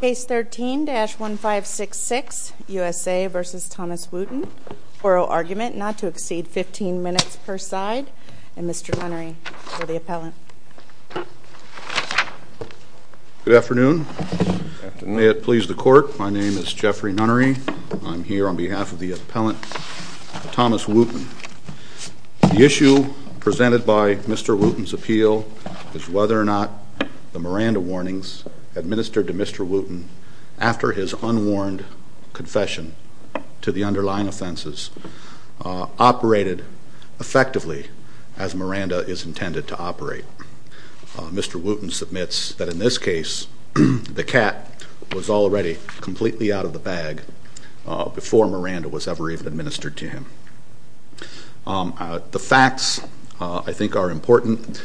Case 13-1566 USA v. Thomas Wooten. Oral argument not to exceed 15 minutes per side. And Mr. Nunnery for the appellant. Good afternoon. May it please the court. My name is Jeffrey Nunnery. I'm here on behalf of the appellant Thomas Wooten. The issue presented by Mr. Wooten's appeal is whether or not the Miranda warnings administered to Mr. Wooten after his unwarned confession to the underlying offenses operated effectively as Miranda is intended to operate. Mr. Wooten submits that in this case the cat was already completely out of the bag before Miranda was ever even administered to him. The facts, I think, are important.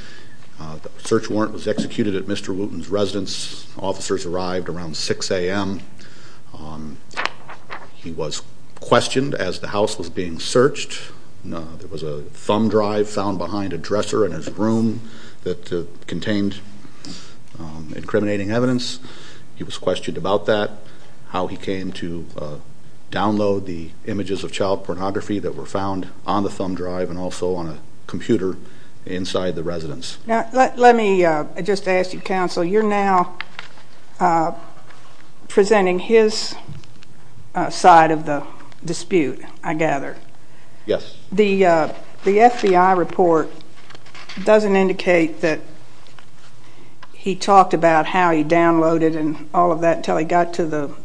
The search warrant was executed at Mr. Wooten's residence. Officers arrived around 6 a.m. He was questioned as the house was being searched. There was a thumb drive found behind a dresser in his room that contained incriminating evidence. He was questioned about that, how he came to download the images of child pornography that were found on the thumb drive and also on a computer inside the residence. Let me just ask you, counsel, you're now presenting his side of the dispute, I gather. Yes. The FBI report doesn't indicate that he talked about how he downloaded and all of that until he got to the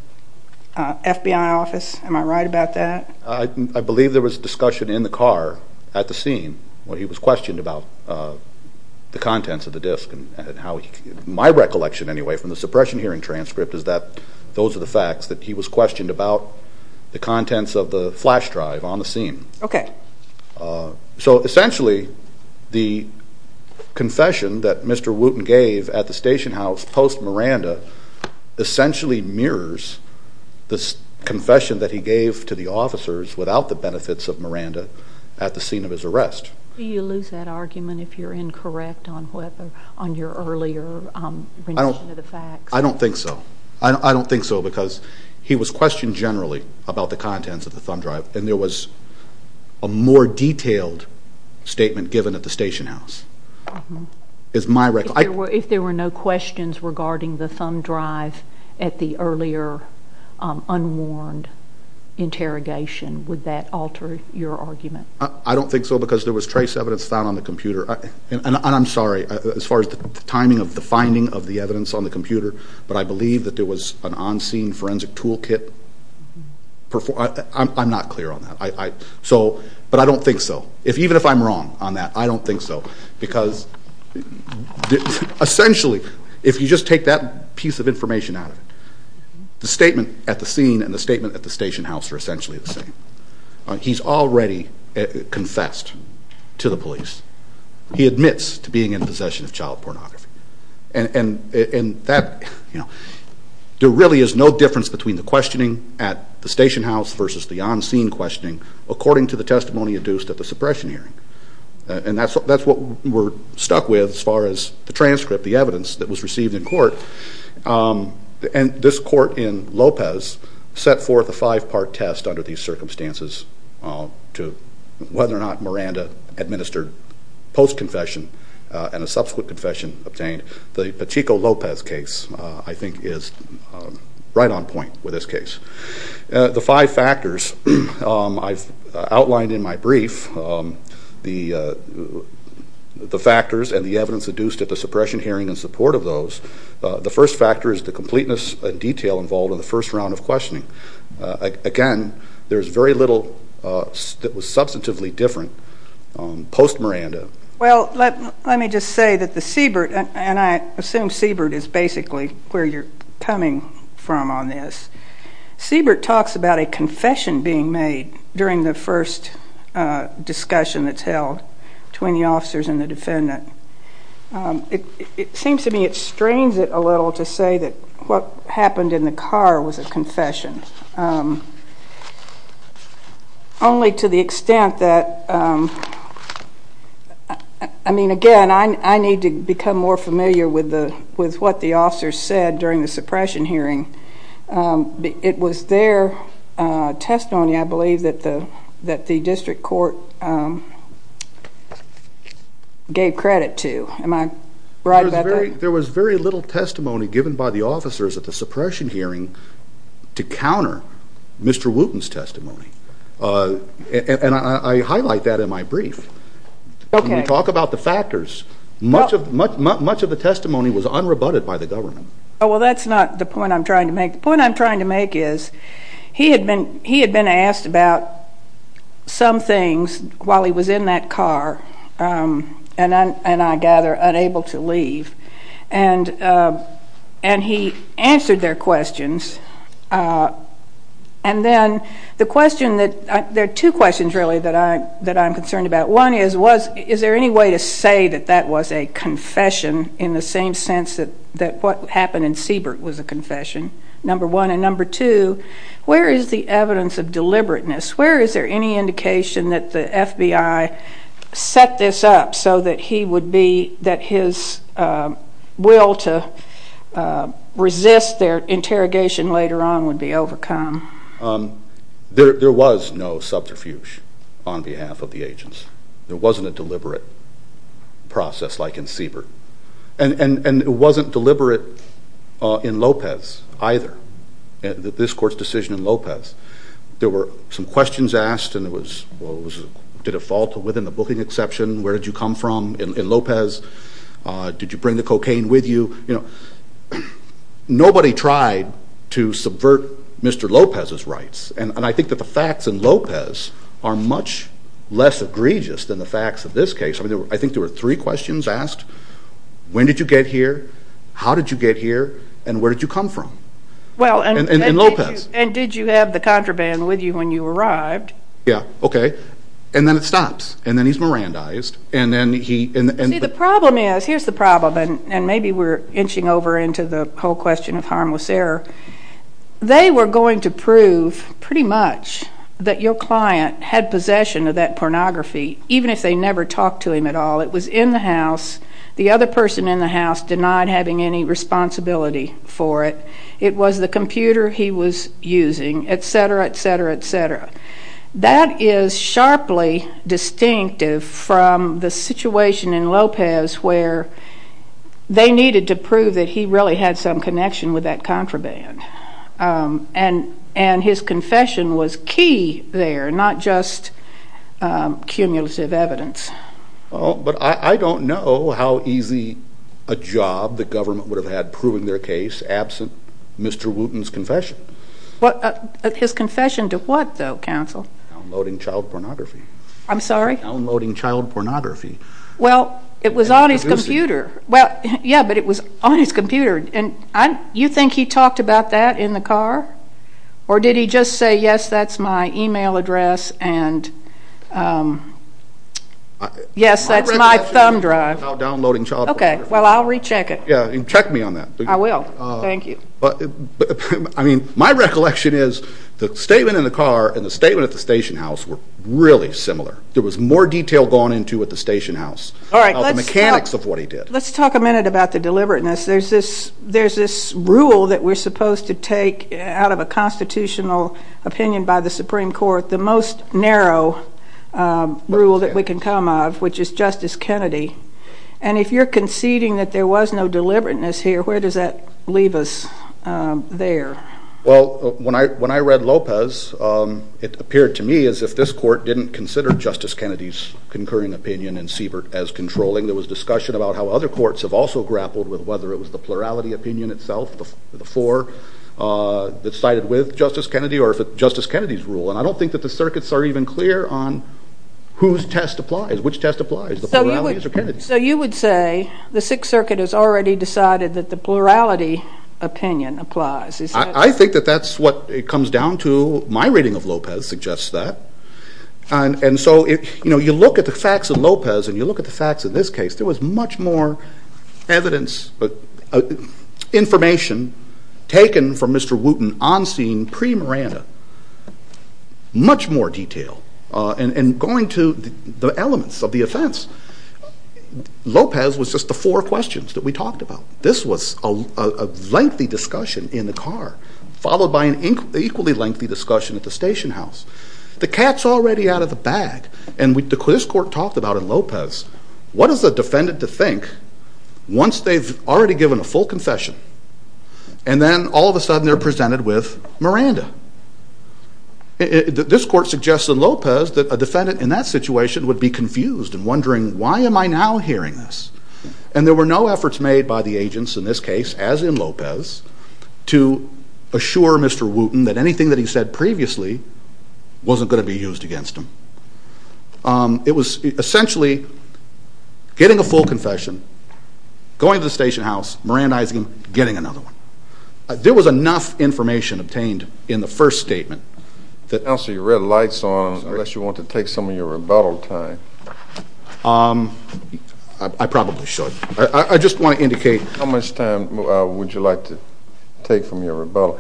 FBI office. Am I right about that? I believe there was discussion in the car at the scene when he was questioned about the contents of the disk. My recollection, anyway, from the suppression hearing transcript is that those are the facts, that he was questioned about the contents of the flash drive on the scene. Okay. So essentially the confession that Mr. Wooten gave at the station house post-Miranda essentially mirrors the confession that he gave to the officers without the benefits of Miranda at the scene of his arrest. Do you lose that argument if you're incorrect on your earlier rendition of the facts? I don't think so. I don't think so because he was questioned generally about the contents of the thumb drive and there was a more detailed statement given at the station house. If there were no questions regarding the thumb drive at the earlier unwarned interrogation, would that alter your argument? I don't think so because there was trace evidence found on the computer, and I'm sorry as far as the timing of the finding of the evidence on the computer, but I believe that there was an on-scene forensic tool kit. I'm not clear on that, but I don't think so. Even if I'm wrong on that, I don't think so because essentially if you just take that piece of information out of it, the statement at the scene and the statement at the station house are essentially the same. He's already confessed to the police. He admits to being in possession of child pornography. There really is no difference between the questioning at the station house versus the on-scene questioning according to the testimony induced at the suppression hearing, and that's what we're stuck with as far as the transcript, the evidence that was received in court. This court in Lopez set forth a five-part test under these circumstances to whether or not Miranda administered post-confession and a subsequent confession obtained. The Pacheco-Lopez case, I think, is right on point with this case. The five factors I've outlined in my brief, the factors and the evidence induced at the suppression hearing in support of those, the first factor is the completeness and detail involved in the first round of questioning. Again, there's very little that was substantively different post-Miranda. Well, let me just say that the Siebert, and I assume Siebert is basically where you're coming from on this. Siebert talks about a confession being made during the first discussion that's held between the officers and the defendant. It seems to me it strains it a little to say that what happened in the car was a confession, only to the extent that, I mean, again, I need to become more familiar with what the officers said during the suppression hearing. It was their testimony, I believe, that the district court gave credit to. Am I right about that? There was very little testimony given by the officers at the suppression hearing to counter Mr. Wooten's testimony, and I highlight that in my brief. When we talk about the factors, much of the testimony was unrebutted by the government. Well, that's not the point I'm trying to make. The point I'm trying to make is he had been asked about some things while he was in that car, and I gather unable to leave, and he answered their questions. And then the question that – there are two questions, really, that I'm concerned about. One is, is there any way to say that that was a confession in the same sense that what happened in Siebert was a confession? Number one. And number two, where is the evidence of deliberateness? Where is there any indication that the FBI set this up so that he would be – that his will to resist their interrogation later on would be overcome? There was no subterfuge on behalf of the agents. There wasn't a deliberate process like in Siebert. And it wasn't deliberate in Lopez either, this court's decision in Lopez. There were some questions asked, and it was, did it fall within the booking exception? Where did you come from in Lopez? Did you bring the cocaine with you? Nobody tried to subvert Mr. Lopez's rights, and I think that the facts in Lopez are much less egregious than the facts of this case. I think there were three questions asked. When did you get here? How did you get here? And where did you come from in Lopez? And did you have the contraband with you when you arrived? Yeah, okay. And then it stops, and then he's Mirandized. See, the problem is, here's the problem, and maybe we're inching over into the whole question of harmless error. They were going to prove pretty much that your client had possession of that pornography, even if they never talked to him at all. It was in the house. The other person in the house denied having any responsibility for it. It was the computer he was using, et cetera, et cetera, et cetera. That is sharply distinctive from the situation in Lopez where they needed to prove that he really had some connection with that contraband, and his confession was key there, not just cumulative evidence. But I don't know how easy a job the government would have had proving their case absent Mr. Wooten's confession. His confession to what, though, counsel? Downloading child pornography. I'm sorry? Downloading child pornography. Well, it was on his computer. Yeah, but it was on his computer. And you think he talked about that in the car? Or did he just say, yes, that's my e-mail address, and yes, that's my thumb drive? Okay, well, I'll recheck it. Yeah, and check me on that. I will. Thank you. I mean, my recollection is the statement in the car and the statement at the station house were really similar. There was more detail gone into at the station house about the mechanics of what he did. All right, let's talk a minute about the deliberateness. There's this rule that we're supposed to take out of a constitutional opinion by the Supreme Court, the most narrow rule that we can come of, which is Justice Kennedy. And if you're conceding that there was no deliberateness here, where does that leave us there? Well, when I read Lopez, it appeared to me as if this court didn't consider Justice Kennedy's concurring opinion and Siebert as controlling. There was discussion about how other courts have also grappled with whether it was the plurality opinion itself, the four that sided with Justice Kennedy, or if it's Justice Kennedy's rule. And I don't think that the circuits are even clear on whose test applies, which test applies, the plurality or Kennedy's. So you would say the Sixth Circuit has already decided that the plurality opinion applies. I think that that's what it comes down to. My reading of Lopez suggests that. And so, you know, you look at the facts of Lopez and you look at the facts of this case, there was much more evidence, information taken from Mr. Wooten on scene pre-Miranda, much more detail. And going to the elements of the offense, Lopez was just the four questions that we talked about. This was a lengthy discussion in the car, followed by an equally lengthy discussion at the station house. The cat's already out of the bag. And this court talked about in Lopez, what is the defendant to think once they've already given a full confession, and then all of a sudden they're presented with Miranda. This court suggests in Lopez that a defendant in that situation would be confused and wondering, why am I now hearing this? And there were no efforts made by the agents in this case, as in Lopez, to assure Mr. Wooten that anything that he said previously wasn't going to be used against him. It was essentially getting a full confession, going to the station house, Miranda Isingham, getting another one. There was enough information obtained in the first statement. Counsel, your red light's on, unless you want to take some of your rebuttal time. I probably should. I just want to indicate. How much time would you like to take from your rebuttal?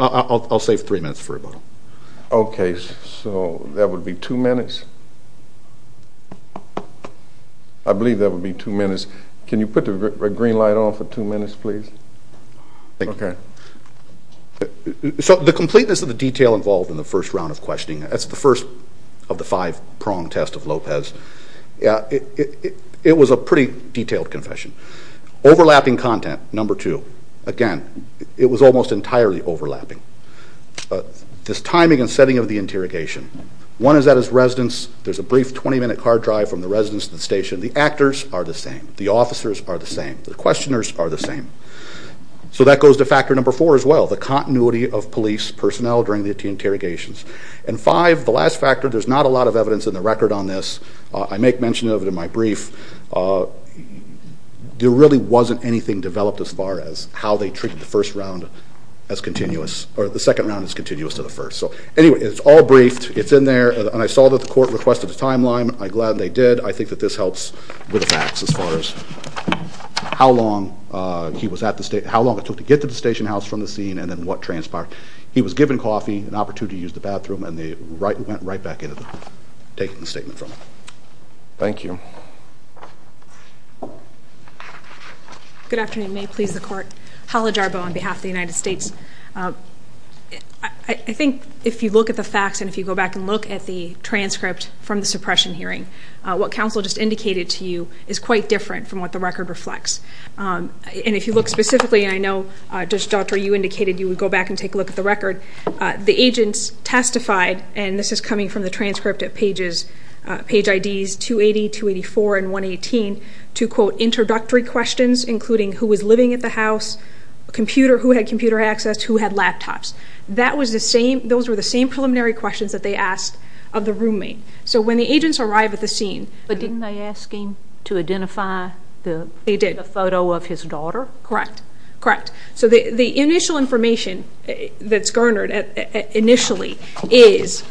I'll save three minutes for rebuttal. Okay, so that would be two minutes? I believe that would be two minutes. Can you put the green light on for two minutes, please? Okay. So the completeness of the detail involved in the first round of questioning, that's the first of the five-prong test of Lopez, it was a pretty detailed confession. Overlapping content, number two. Again, it was almost entirely overlapping. This timing and setting of the interrogation. One is at his residence. There's a brief 20-minute car drive from the residence to the station. The actors are the same. The officers are the same. The questioners are the same. So that goes to factor number four as well, the continuity of police personnel during the interrogations. And five, the last factor, there's not a lot of evidence in the record on this. I make mention of it in my brief. There really wasn't anything developed as far as how they treated the first round as continuous, or the second round as continuous to the first. Anyway, it's all briefed. It's in there. And I saw that the court requested a timeline. I'm glad they did. I think that this helps with the facts as far as how long it took to get to the station house from the scene and then what transpired. He was given coffee, an opportunity to use the bathroom, and they went right back into taking the statement from him. Thank you. Good afternoon. May it please the Court. Hala Jarbo on behalf of the United States. I think if you look at the facts and if you go back and look at the transcript from the suppression hearing, what counsel just indicated to you is quite different from what the record reflects. And if you look specifically, I know, Judge Doctor, you indicated you would go back and take a look at the record. The agents testified, and this is coming from the transcript at page IDs 280, 284, and 118, to, quote, introductory questions, including who was living at the house, who had computer access, who had laptops. Those were the same preliminary questions that they asked of the roommate. So when the agents arrived at the scene. But didn't they ask him to identify the photo of his daughter? Correct. So the initial information that's garnered initially is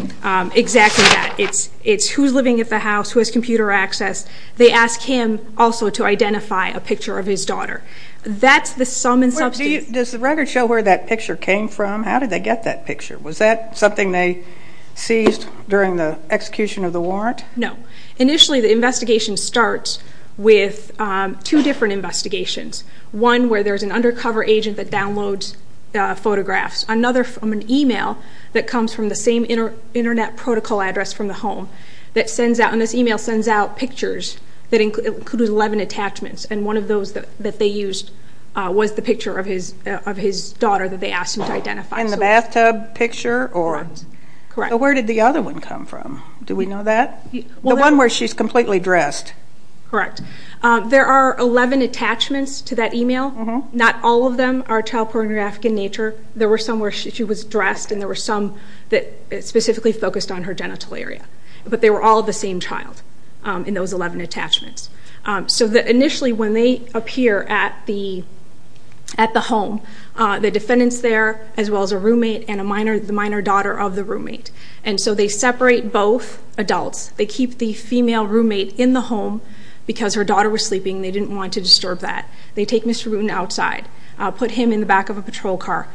exactly that. It's who's living at the house, who has computer access. They ask him also to identify a picture of his daughter. That's the sum and substance. Does the record show where that picture came from? How did they get that picture? Was that something they seized during the execution of the warrant? No. Initially the investigation starts with two different investigations, one where there's an undercover agent that downloads photographs, another from an e-mail that comes from the same Internet protocol address from the home that sends out, and this e-mail sends out pictures that include 11 attachments, and one of those that they used was the picture of his daughter that they asked him to identify. And the bathtub picture? Correct. But where did the other one come from? Do we know that? The one where she's completely dressed. Correct. There are 11 attachments to that e-mail. Not all of them are child pornographic in nature. There were some where she was dressed, and there were some that specifically focused on her genital area. But they were all the same child in those 11 attachments. So initially when they appear at the home, the defendant's there as well as a roommate and the minor daughter of the roommate. And so they separate both adults. They keep the female roommate in the home because her daughter was sleeping and they didn't want to disturb that. They take Mr. Boone outside, put him in the back of a patrol car.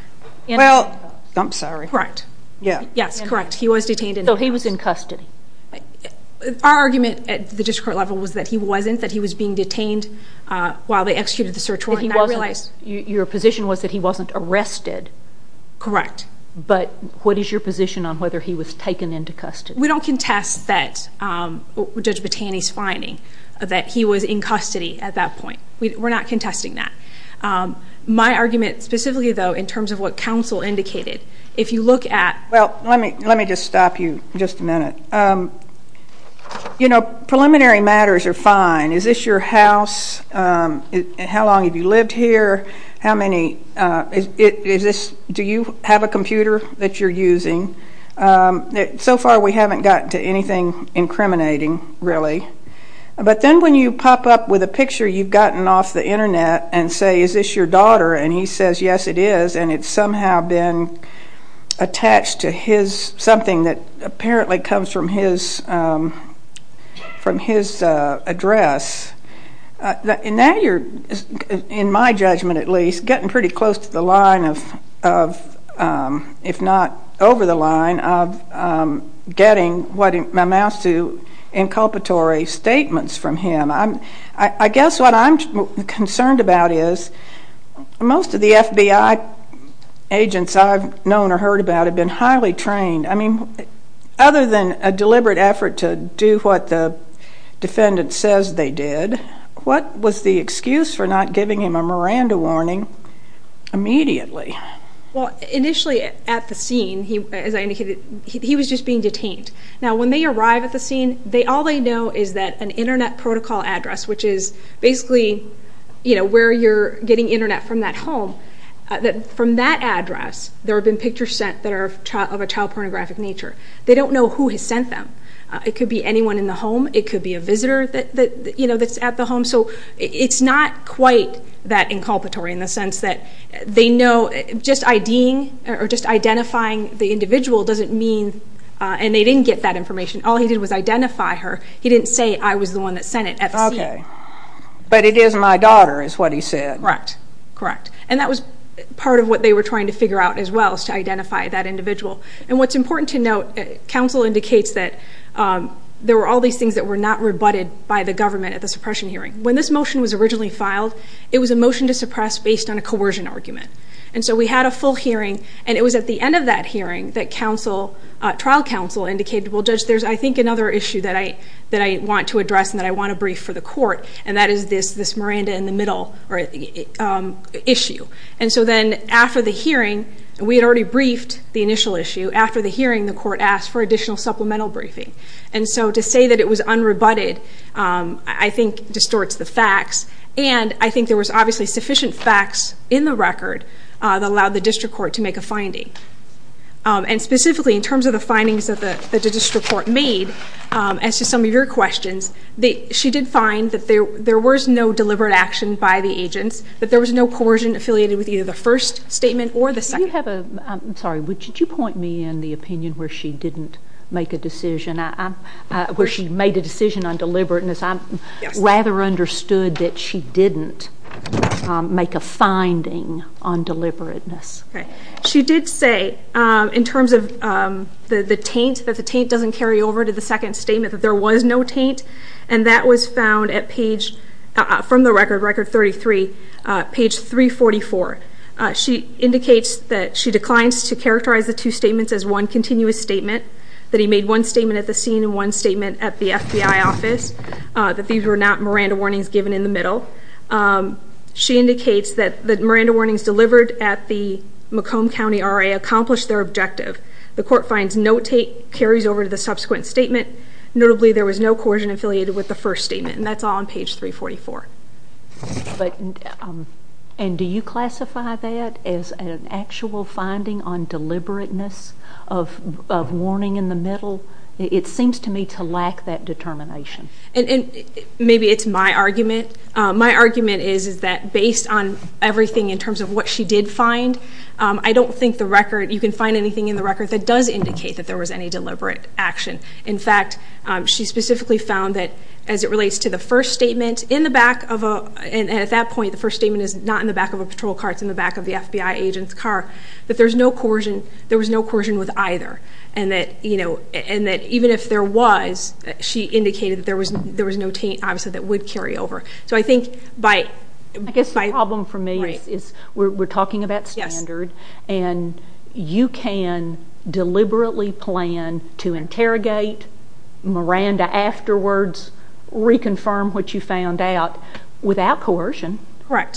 Well, I'm sorry. Correct. Yes, correct. He was detained in the house. So he was in custody. Our argument at the district court level was that he wasn't, that he was being detained while they executed the search warrant. Your position was that he wasn't arrested. Correct. But what is your position on whether he was taken into custody? We don't contest Judge Battani's finding that he was in custody at that point. We're not contesting that. My argument specifically, though, in terms of what counsel indicated, if you look at Well, let me just stop you just a minute. You know, preliminary matters are fine. Is this your house? How long have you lived here? How many, is this, do you have a computer that you're using? So far we haven't gotten to anything incriminating, really. But then when you pop up with a picture you've gotten off the Internet and say, is this your daughter? And he says, yes, it is. And it's somehow been attached to his, something that apparently comes from his address. And now you're, in my judgment at least, getting pretty close to the line of, if not over the line, of getting what amounts to inculpatory statements from him. I guess what I'm concerned about is most of the FBI agents I've known or heard about have been highly trained. I mean, other than a deliberate effort to do what the defendant says they did, what was the excuse for not giving him a Miranda warning immediately? Well, initially at the scene, as I indicated, he was just being detained. Now when they arrive at the scene, all they know is that an Internet protocol address, which is basically where you're getting Internet from that home, from that address there have been pictures sent that are of a child pornographic nature. They don't know who has sent them. It could be anyone in the home. It could be a visitor that's at the home. So it's not quite that inculpatory in the sense that they know, just IDing or just identifying the individual doesn't mean, and they didn't get that information, all he did was identify her. He didn't say, I was the one that sent it at the scene. Okay. But it is my daughter is what he said. Correct. Correct. And that was part of what they were trying to figure out as well, was to identify that individual. And what's important to note, counsel indicates that there were all these things that were not rebutted by the government at the suppression hearing. When this motion was originally filed, it was a motion to suppress based on a coercion argument. And so we had a full hearing, and it was at the end of that hearing that trial counsel indicated, well, Judge, there's, I think, another issue that I want to address and that I want to brief for the court, and that is this Miranda in the middle issue. And so then after the hearing, we had already briefed the initial issue. After the hearing, the court asked for additional supplemental briefing. And so to say that it was unrebutted, I think, distorts the facts. And I think there was obviously sufficient facts in the record that allowed the district court to make a finding. And specifically in terms of the findings that the district court made, as to some of your questions, she did find that there was no deliberate action by the agents, that there was no coercion affiliated with either the first statement or the second. Do you have a, I'm sorry, would you point me in the opinion where she didn't make a decision, where she made a decision on deliberateness? Yes. Rather understood that she didn't make a finding on deliberateness. Okay. She did say in terms of the taint, that the taint doesn't carry over to the second statement, that there was no taint, and that was found at page, from the record, record 33, page 344. She indicates that she declines to characterize the two statements as one continuous statement, that he made one statement at the scene and one statement at the FBI office, that these were not Miranda warnings given in the middle. She indicates that the Miranda warnings delivered at the Macomb County RA accomplished their objective. The court finds no taint carries over to the subsequent statement. Notably, there was no coercion affiliated with the first statement, and that's all on page 344. And do you classify that as an actual finding on deliberateness of warning in the middle? It seems to me to lack that determination. Maybe it's my argument. My argument is that based on everything in terms of what she did find, I don't think you can find anything in the record that does indicate that there was any deliberate action. In fact, she specifically found that as it relates to the first statement, and at that point the first statement is not in the back of a patrol car, it's in the back of the FBI agent's car, that there was no coercion with either, and that even if there was, she indicated that there was no taint, obviously, that would carry over. I guess the problem for me is we're talking about standard, and you can deliberately plan to interrogate Miranda afterwards, reconfirm what you found out, without coercion,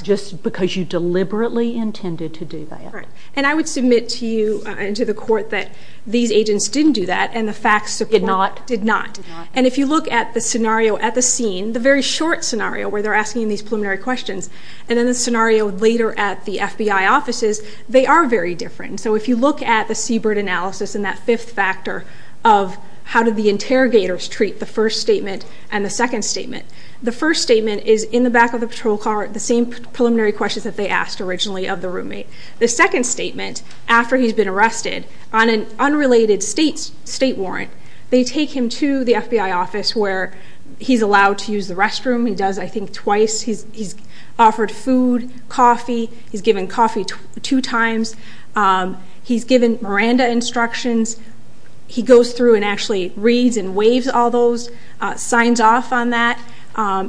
just because you deliberately intended to do that. And I would submit to you and to the court that these agents didn't do that, and the facts support that. Did not? Did not. And if you look at the scenario at the scene, the very short scenario where they're asking these preliminary questions, and then the scenario later at the FBI offices, they are very different. So if you look at the Seabird analysis and that fifth factor of how did the interrogators treat the first statement and the second statement, the first statement is in the back of the patrol car, the same preliminary questions that they asked originally of the roommate. The second statement, after he's been arrested, on an unrelated state warrant, they take him to the FBI office where he's allowed to use the restroom. He does, I think, twice. He's offered food, coffee. He's given coffee two times. He's given Miranda instructions. He goes through and actually reads and waives all those, signs off on that.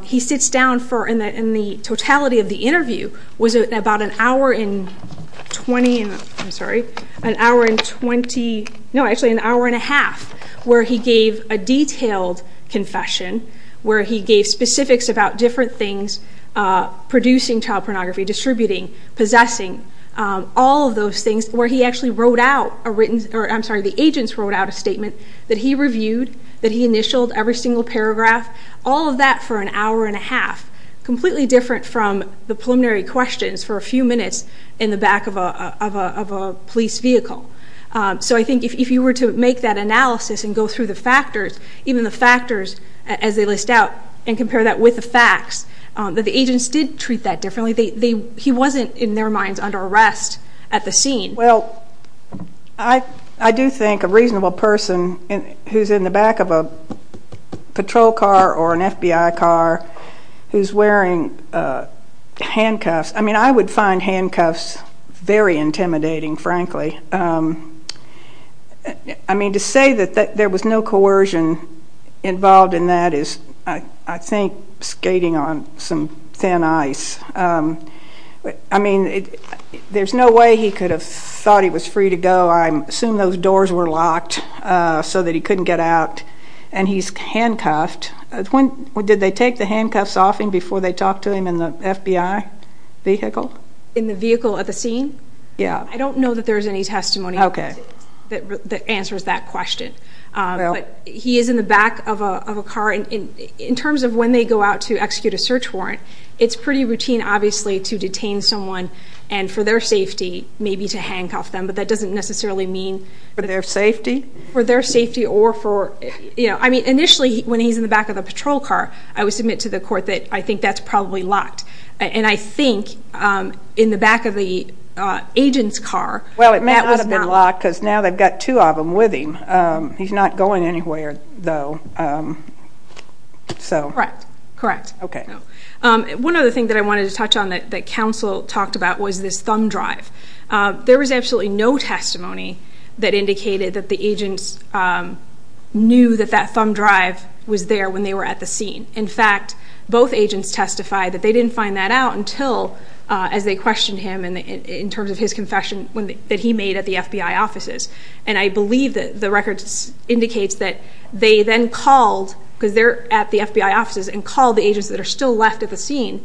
He sits down for, in the totality of the interview, was it about an hour and 20, I'm sorry, an hour and 20, no, actually an hour and a half, where he gave a detailed confession, where he gave specifics about different things, producing child pornography, distributing, possessing, all of those things where he actually wrote out a written, or I'm sorry, the agents wrote out a statement that he reviewed, that he initialed every single paragraph, all of that for an hour and a half, completely different from the preliminary questions for a few minutes in the back of a police vehicle. So I think if you were to make that analysis and go through the factors, even the factors as they list out and compare that with the facts, that the agents did treat that differently. He wasn't, in their minds, under arrest at the scene. Well, I do think a reasonable person who's in the back of a patrol car or an FBI car, who's wearing handcuffs, I mean, I would find handcuffs very intimidating, frankly. I mean, to say that there was no coercion involved in that is, I think, skating on some thin ice. I mean, there's no way he could have thought he was free to go. I assume those doors were locked so that he couldn't get out. And he's handcuffed. Did they take the handcuffs off him before they talked to him in the FBI vehicle? In the vehicle at the scene? Yeah. I don't know that there's any testimony that answers that question. But he is in the back of a car. In terms of when they go out to execute a search warrant, it's pretty routine, obviously, to detain someone, and for their safety, maybe to handcuff them. But that doesn't necessarily mean for their safety. For their safety or for, you know, I mean, initially, when he's in the back of a patrol car, I would submit to the court that I think that's probably locked. And I think in the back of the agent's car, that was not locked. Well, it may not have been locked because now they've got two of them with him. He's not going anywhere, though. Correct. Correct. Okay. One other thing that I wanted to touch on that counsel talked about was this thumb drive. There was absolutely no testimony that indicated that the agents knew that that thumb drive was there when they were at the scene. In fact, both agents testified that they didn't find that out until, as they questioned him, in terms of his confession that he made at the FBI offices. And I believe that the record indicates that they then called, because they're at the FBI offices, and called the agents that are still left at the scene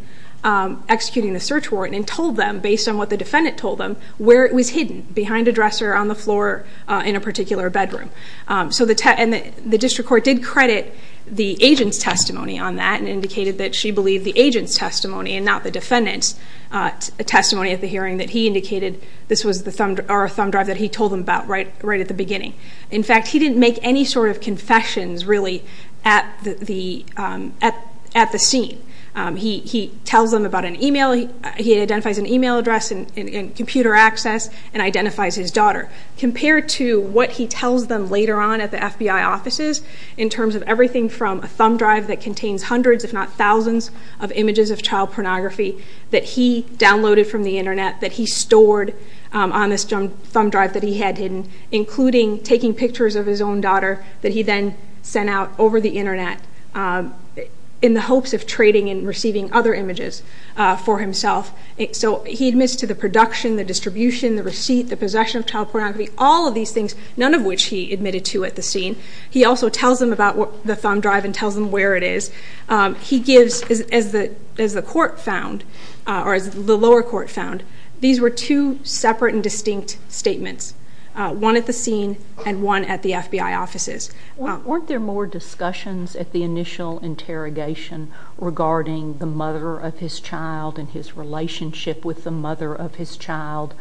executing the search warrant and told them, based on what the defendant told them, where it was hidden, behind a dresser, on the floor, in a particular bedroom. And the district court did credit the agent's testimony on that and indicated that she believed the agent's testimony and not the defendant's testimony at the hearing, that he indicated this was a thumb drive that he told them about right at the beginning. In fact, he didn't make any sort of confessions, really, at the scene. He tells them about an email. He identifies an email address and computer access and identifies his daughter. Compared to what he tells them later on at the FBI offices, in terms of everything from a thumb drive that contains hundreds, if not thousands, of images of child pornography that he downloaded from the Internet, that he stored on this thumb drive that he had hidden, including taking pictures of his own daughter that he then sent out over the Internet in the hopes of trading and receiving other images for himself. So he admits to the production, the distribution, the receipt, the possession of child pornography, all of these things, none of which he admitted to at the scene. He also tells them about the thumb drive and tells them where it is. He gives, as the court found, or as the lower court found, these were two separate and distinct statements, one at the scene and one at the FBI offices. Weren't there more discussions at the initial interrogation regarding the mother of his child and his relationship with the mother of his child?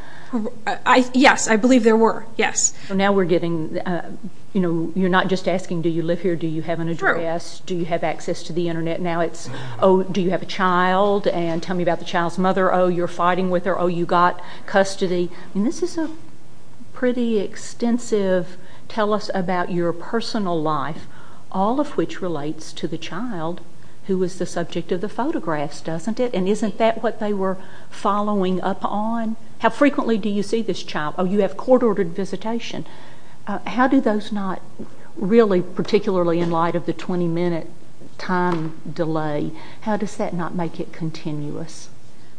Yes, I believe there were, yes. So now we're getting, you know, you're not just asking do you live here, do you have an address, do you have access to the Internet? Now it's, oh, do you have a child, and tell me about the child's mother, oh, you're fighting with her, oh, you got custody. This is a pretty extensive tell us about your personal life, all of which relates to the child who was the subject of the photographs, doesn't it? And isn't that what they were following up on? How frequently do you see this child? Oh, you have court-ordered visitation. How do those not really, particularly in light of the 20-minute time delay, how does that not make it continuous?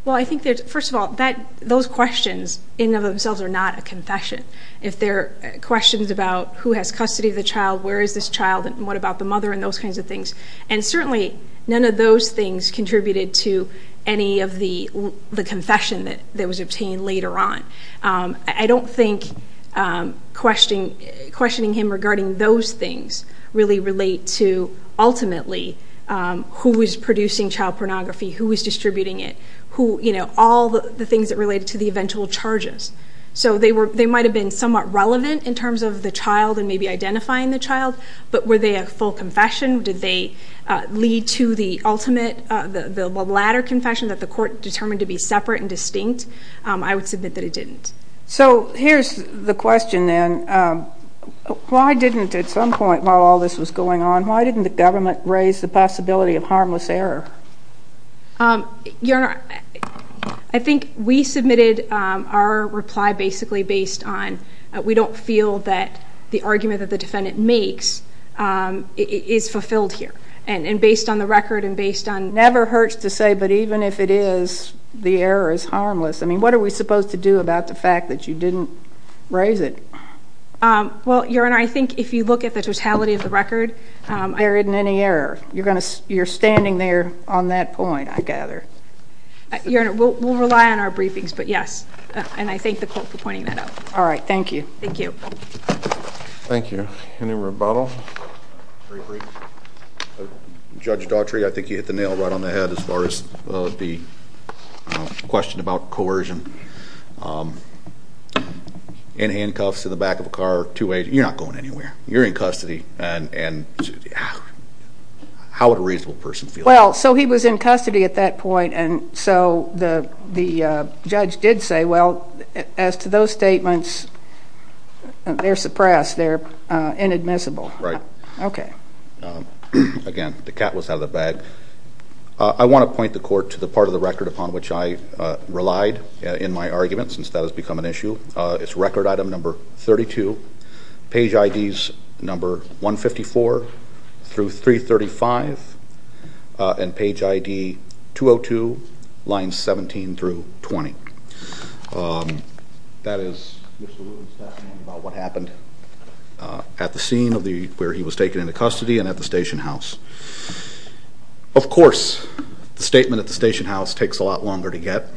Well, I think that, first of all, those questions in and of themselves are not a confession. If they're questions about who has custody of the child, where is this child, and what about the mother, and those kinds of things, and certainly none of those things contributed to any of the confession that was obtained later on. I don't think questioning him regarding those things really relate to, ultimately, who was producing child pornography, who was distributing it, all the things that related to the eventual charges. So they might have been somewhat relevant in terms of the child and maybe identifying the child, but were they a full confession? Did they lead to the ultimate, the latter confession that the court determined to be separate and distinct? I would submit that it didn't. So here's the question, then. Why didn't, at some point while all this was going on, why didn't the government raise the possibility of harmless error? Your Honor, I think we submitted our reply basically based on we don't feel that the argument that the defendant makes is fulfilled here, and based on the record and based on... I mean, what are we supposed to do about the fact that you didn't raise it? Well, Your Honor, I think if you look at the totality of the record... There isn't any error. You're standing there on that point, I gather. Your Honor, we'll rely on our briefings, but yes. And I thank the court for pointing that out. All right, thank you. Thank you. Thank you. Any rebuttal? Very brief. Judge Daughtry, I think you hit the nail right on the head as far as the question about coercion. In handcuffs, in the back of a car, two-way, you're not going anywhere. You're in custody. And how would a reasonable person feel? Well, so he was in custody at that point, and so the judge did say, well, as to those statements, they're suppressed. They're inadmissible. Right. Okay. Again, the cat was out of the bag. I want to point the court to the part of the record upon which I relied in my argument, since that has become an issue. It's record item number 32, page IDs number 154 through 335, and page ID 202, lines 17 through 20. That is Mr. Wooten's statement about what happened at the scene where he was taken into custody and at the station house. Of course, the statement at the station house takes a lot longer to get.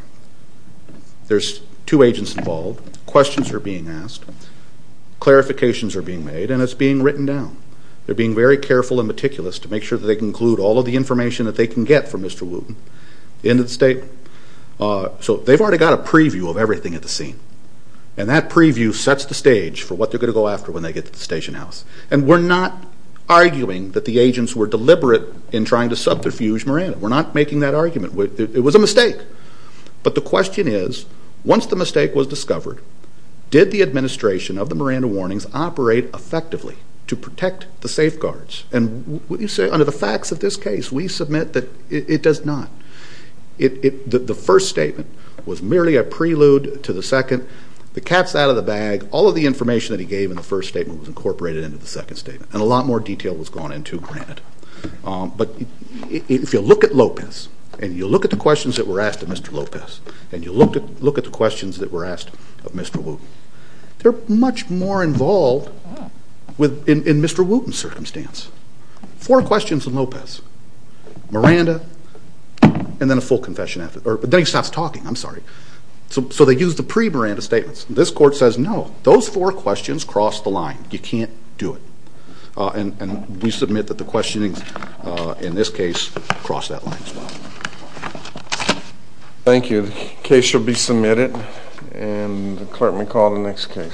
There's two agents involved. Questions are being asked. Clarifications are being made, and it's being written down. They're being very careful and meticulous to make sure that they include all of the information that they can get from Mr. Wooten into the statement. So they've already got a preview of everything at the scene, and that preview sets the stage for what they're going to go after when they get to the station house. And we're not arguing that the agents were deliberate in trying to subterfuge Miranda. We're not making that argument. It was a mistake. But the question is, once the mistake was discovered, did the administration of the Miranda warnings operate effectively to protect the safeguards? And under the facts of this case, we submit that it does not. The first statement was merely a prelude to the second. The cap's out of the bag. All of the information that he gave in the first statement was incorporated into the second statement, and a lot more detail was gone into it, granted. But if you look at Lopez, and you look at the questions that were asked of Mr. Lopez, and you look at the questions that were asked of Mr. Wooten, four questions of Lopez, Miranda, and then a full confession after. But then he stops talking. I'm sorry. So they used the pre-Miranda statements. This court says, no, those four questions cross the line. You can't do it. And we submit that the questionings in this case cross that line as well. Thank you. The case shall be submitted, and the clerk may call the next case.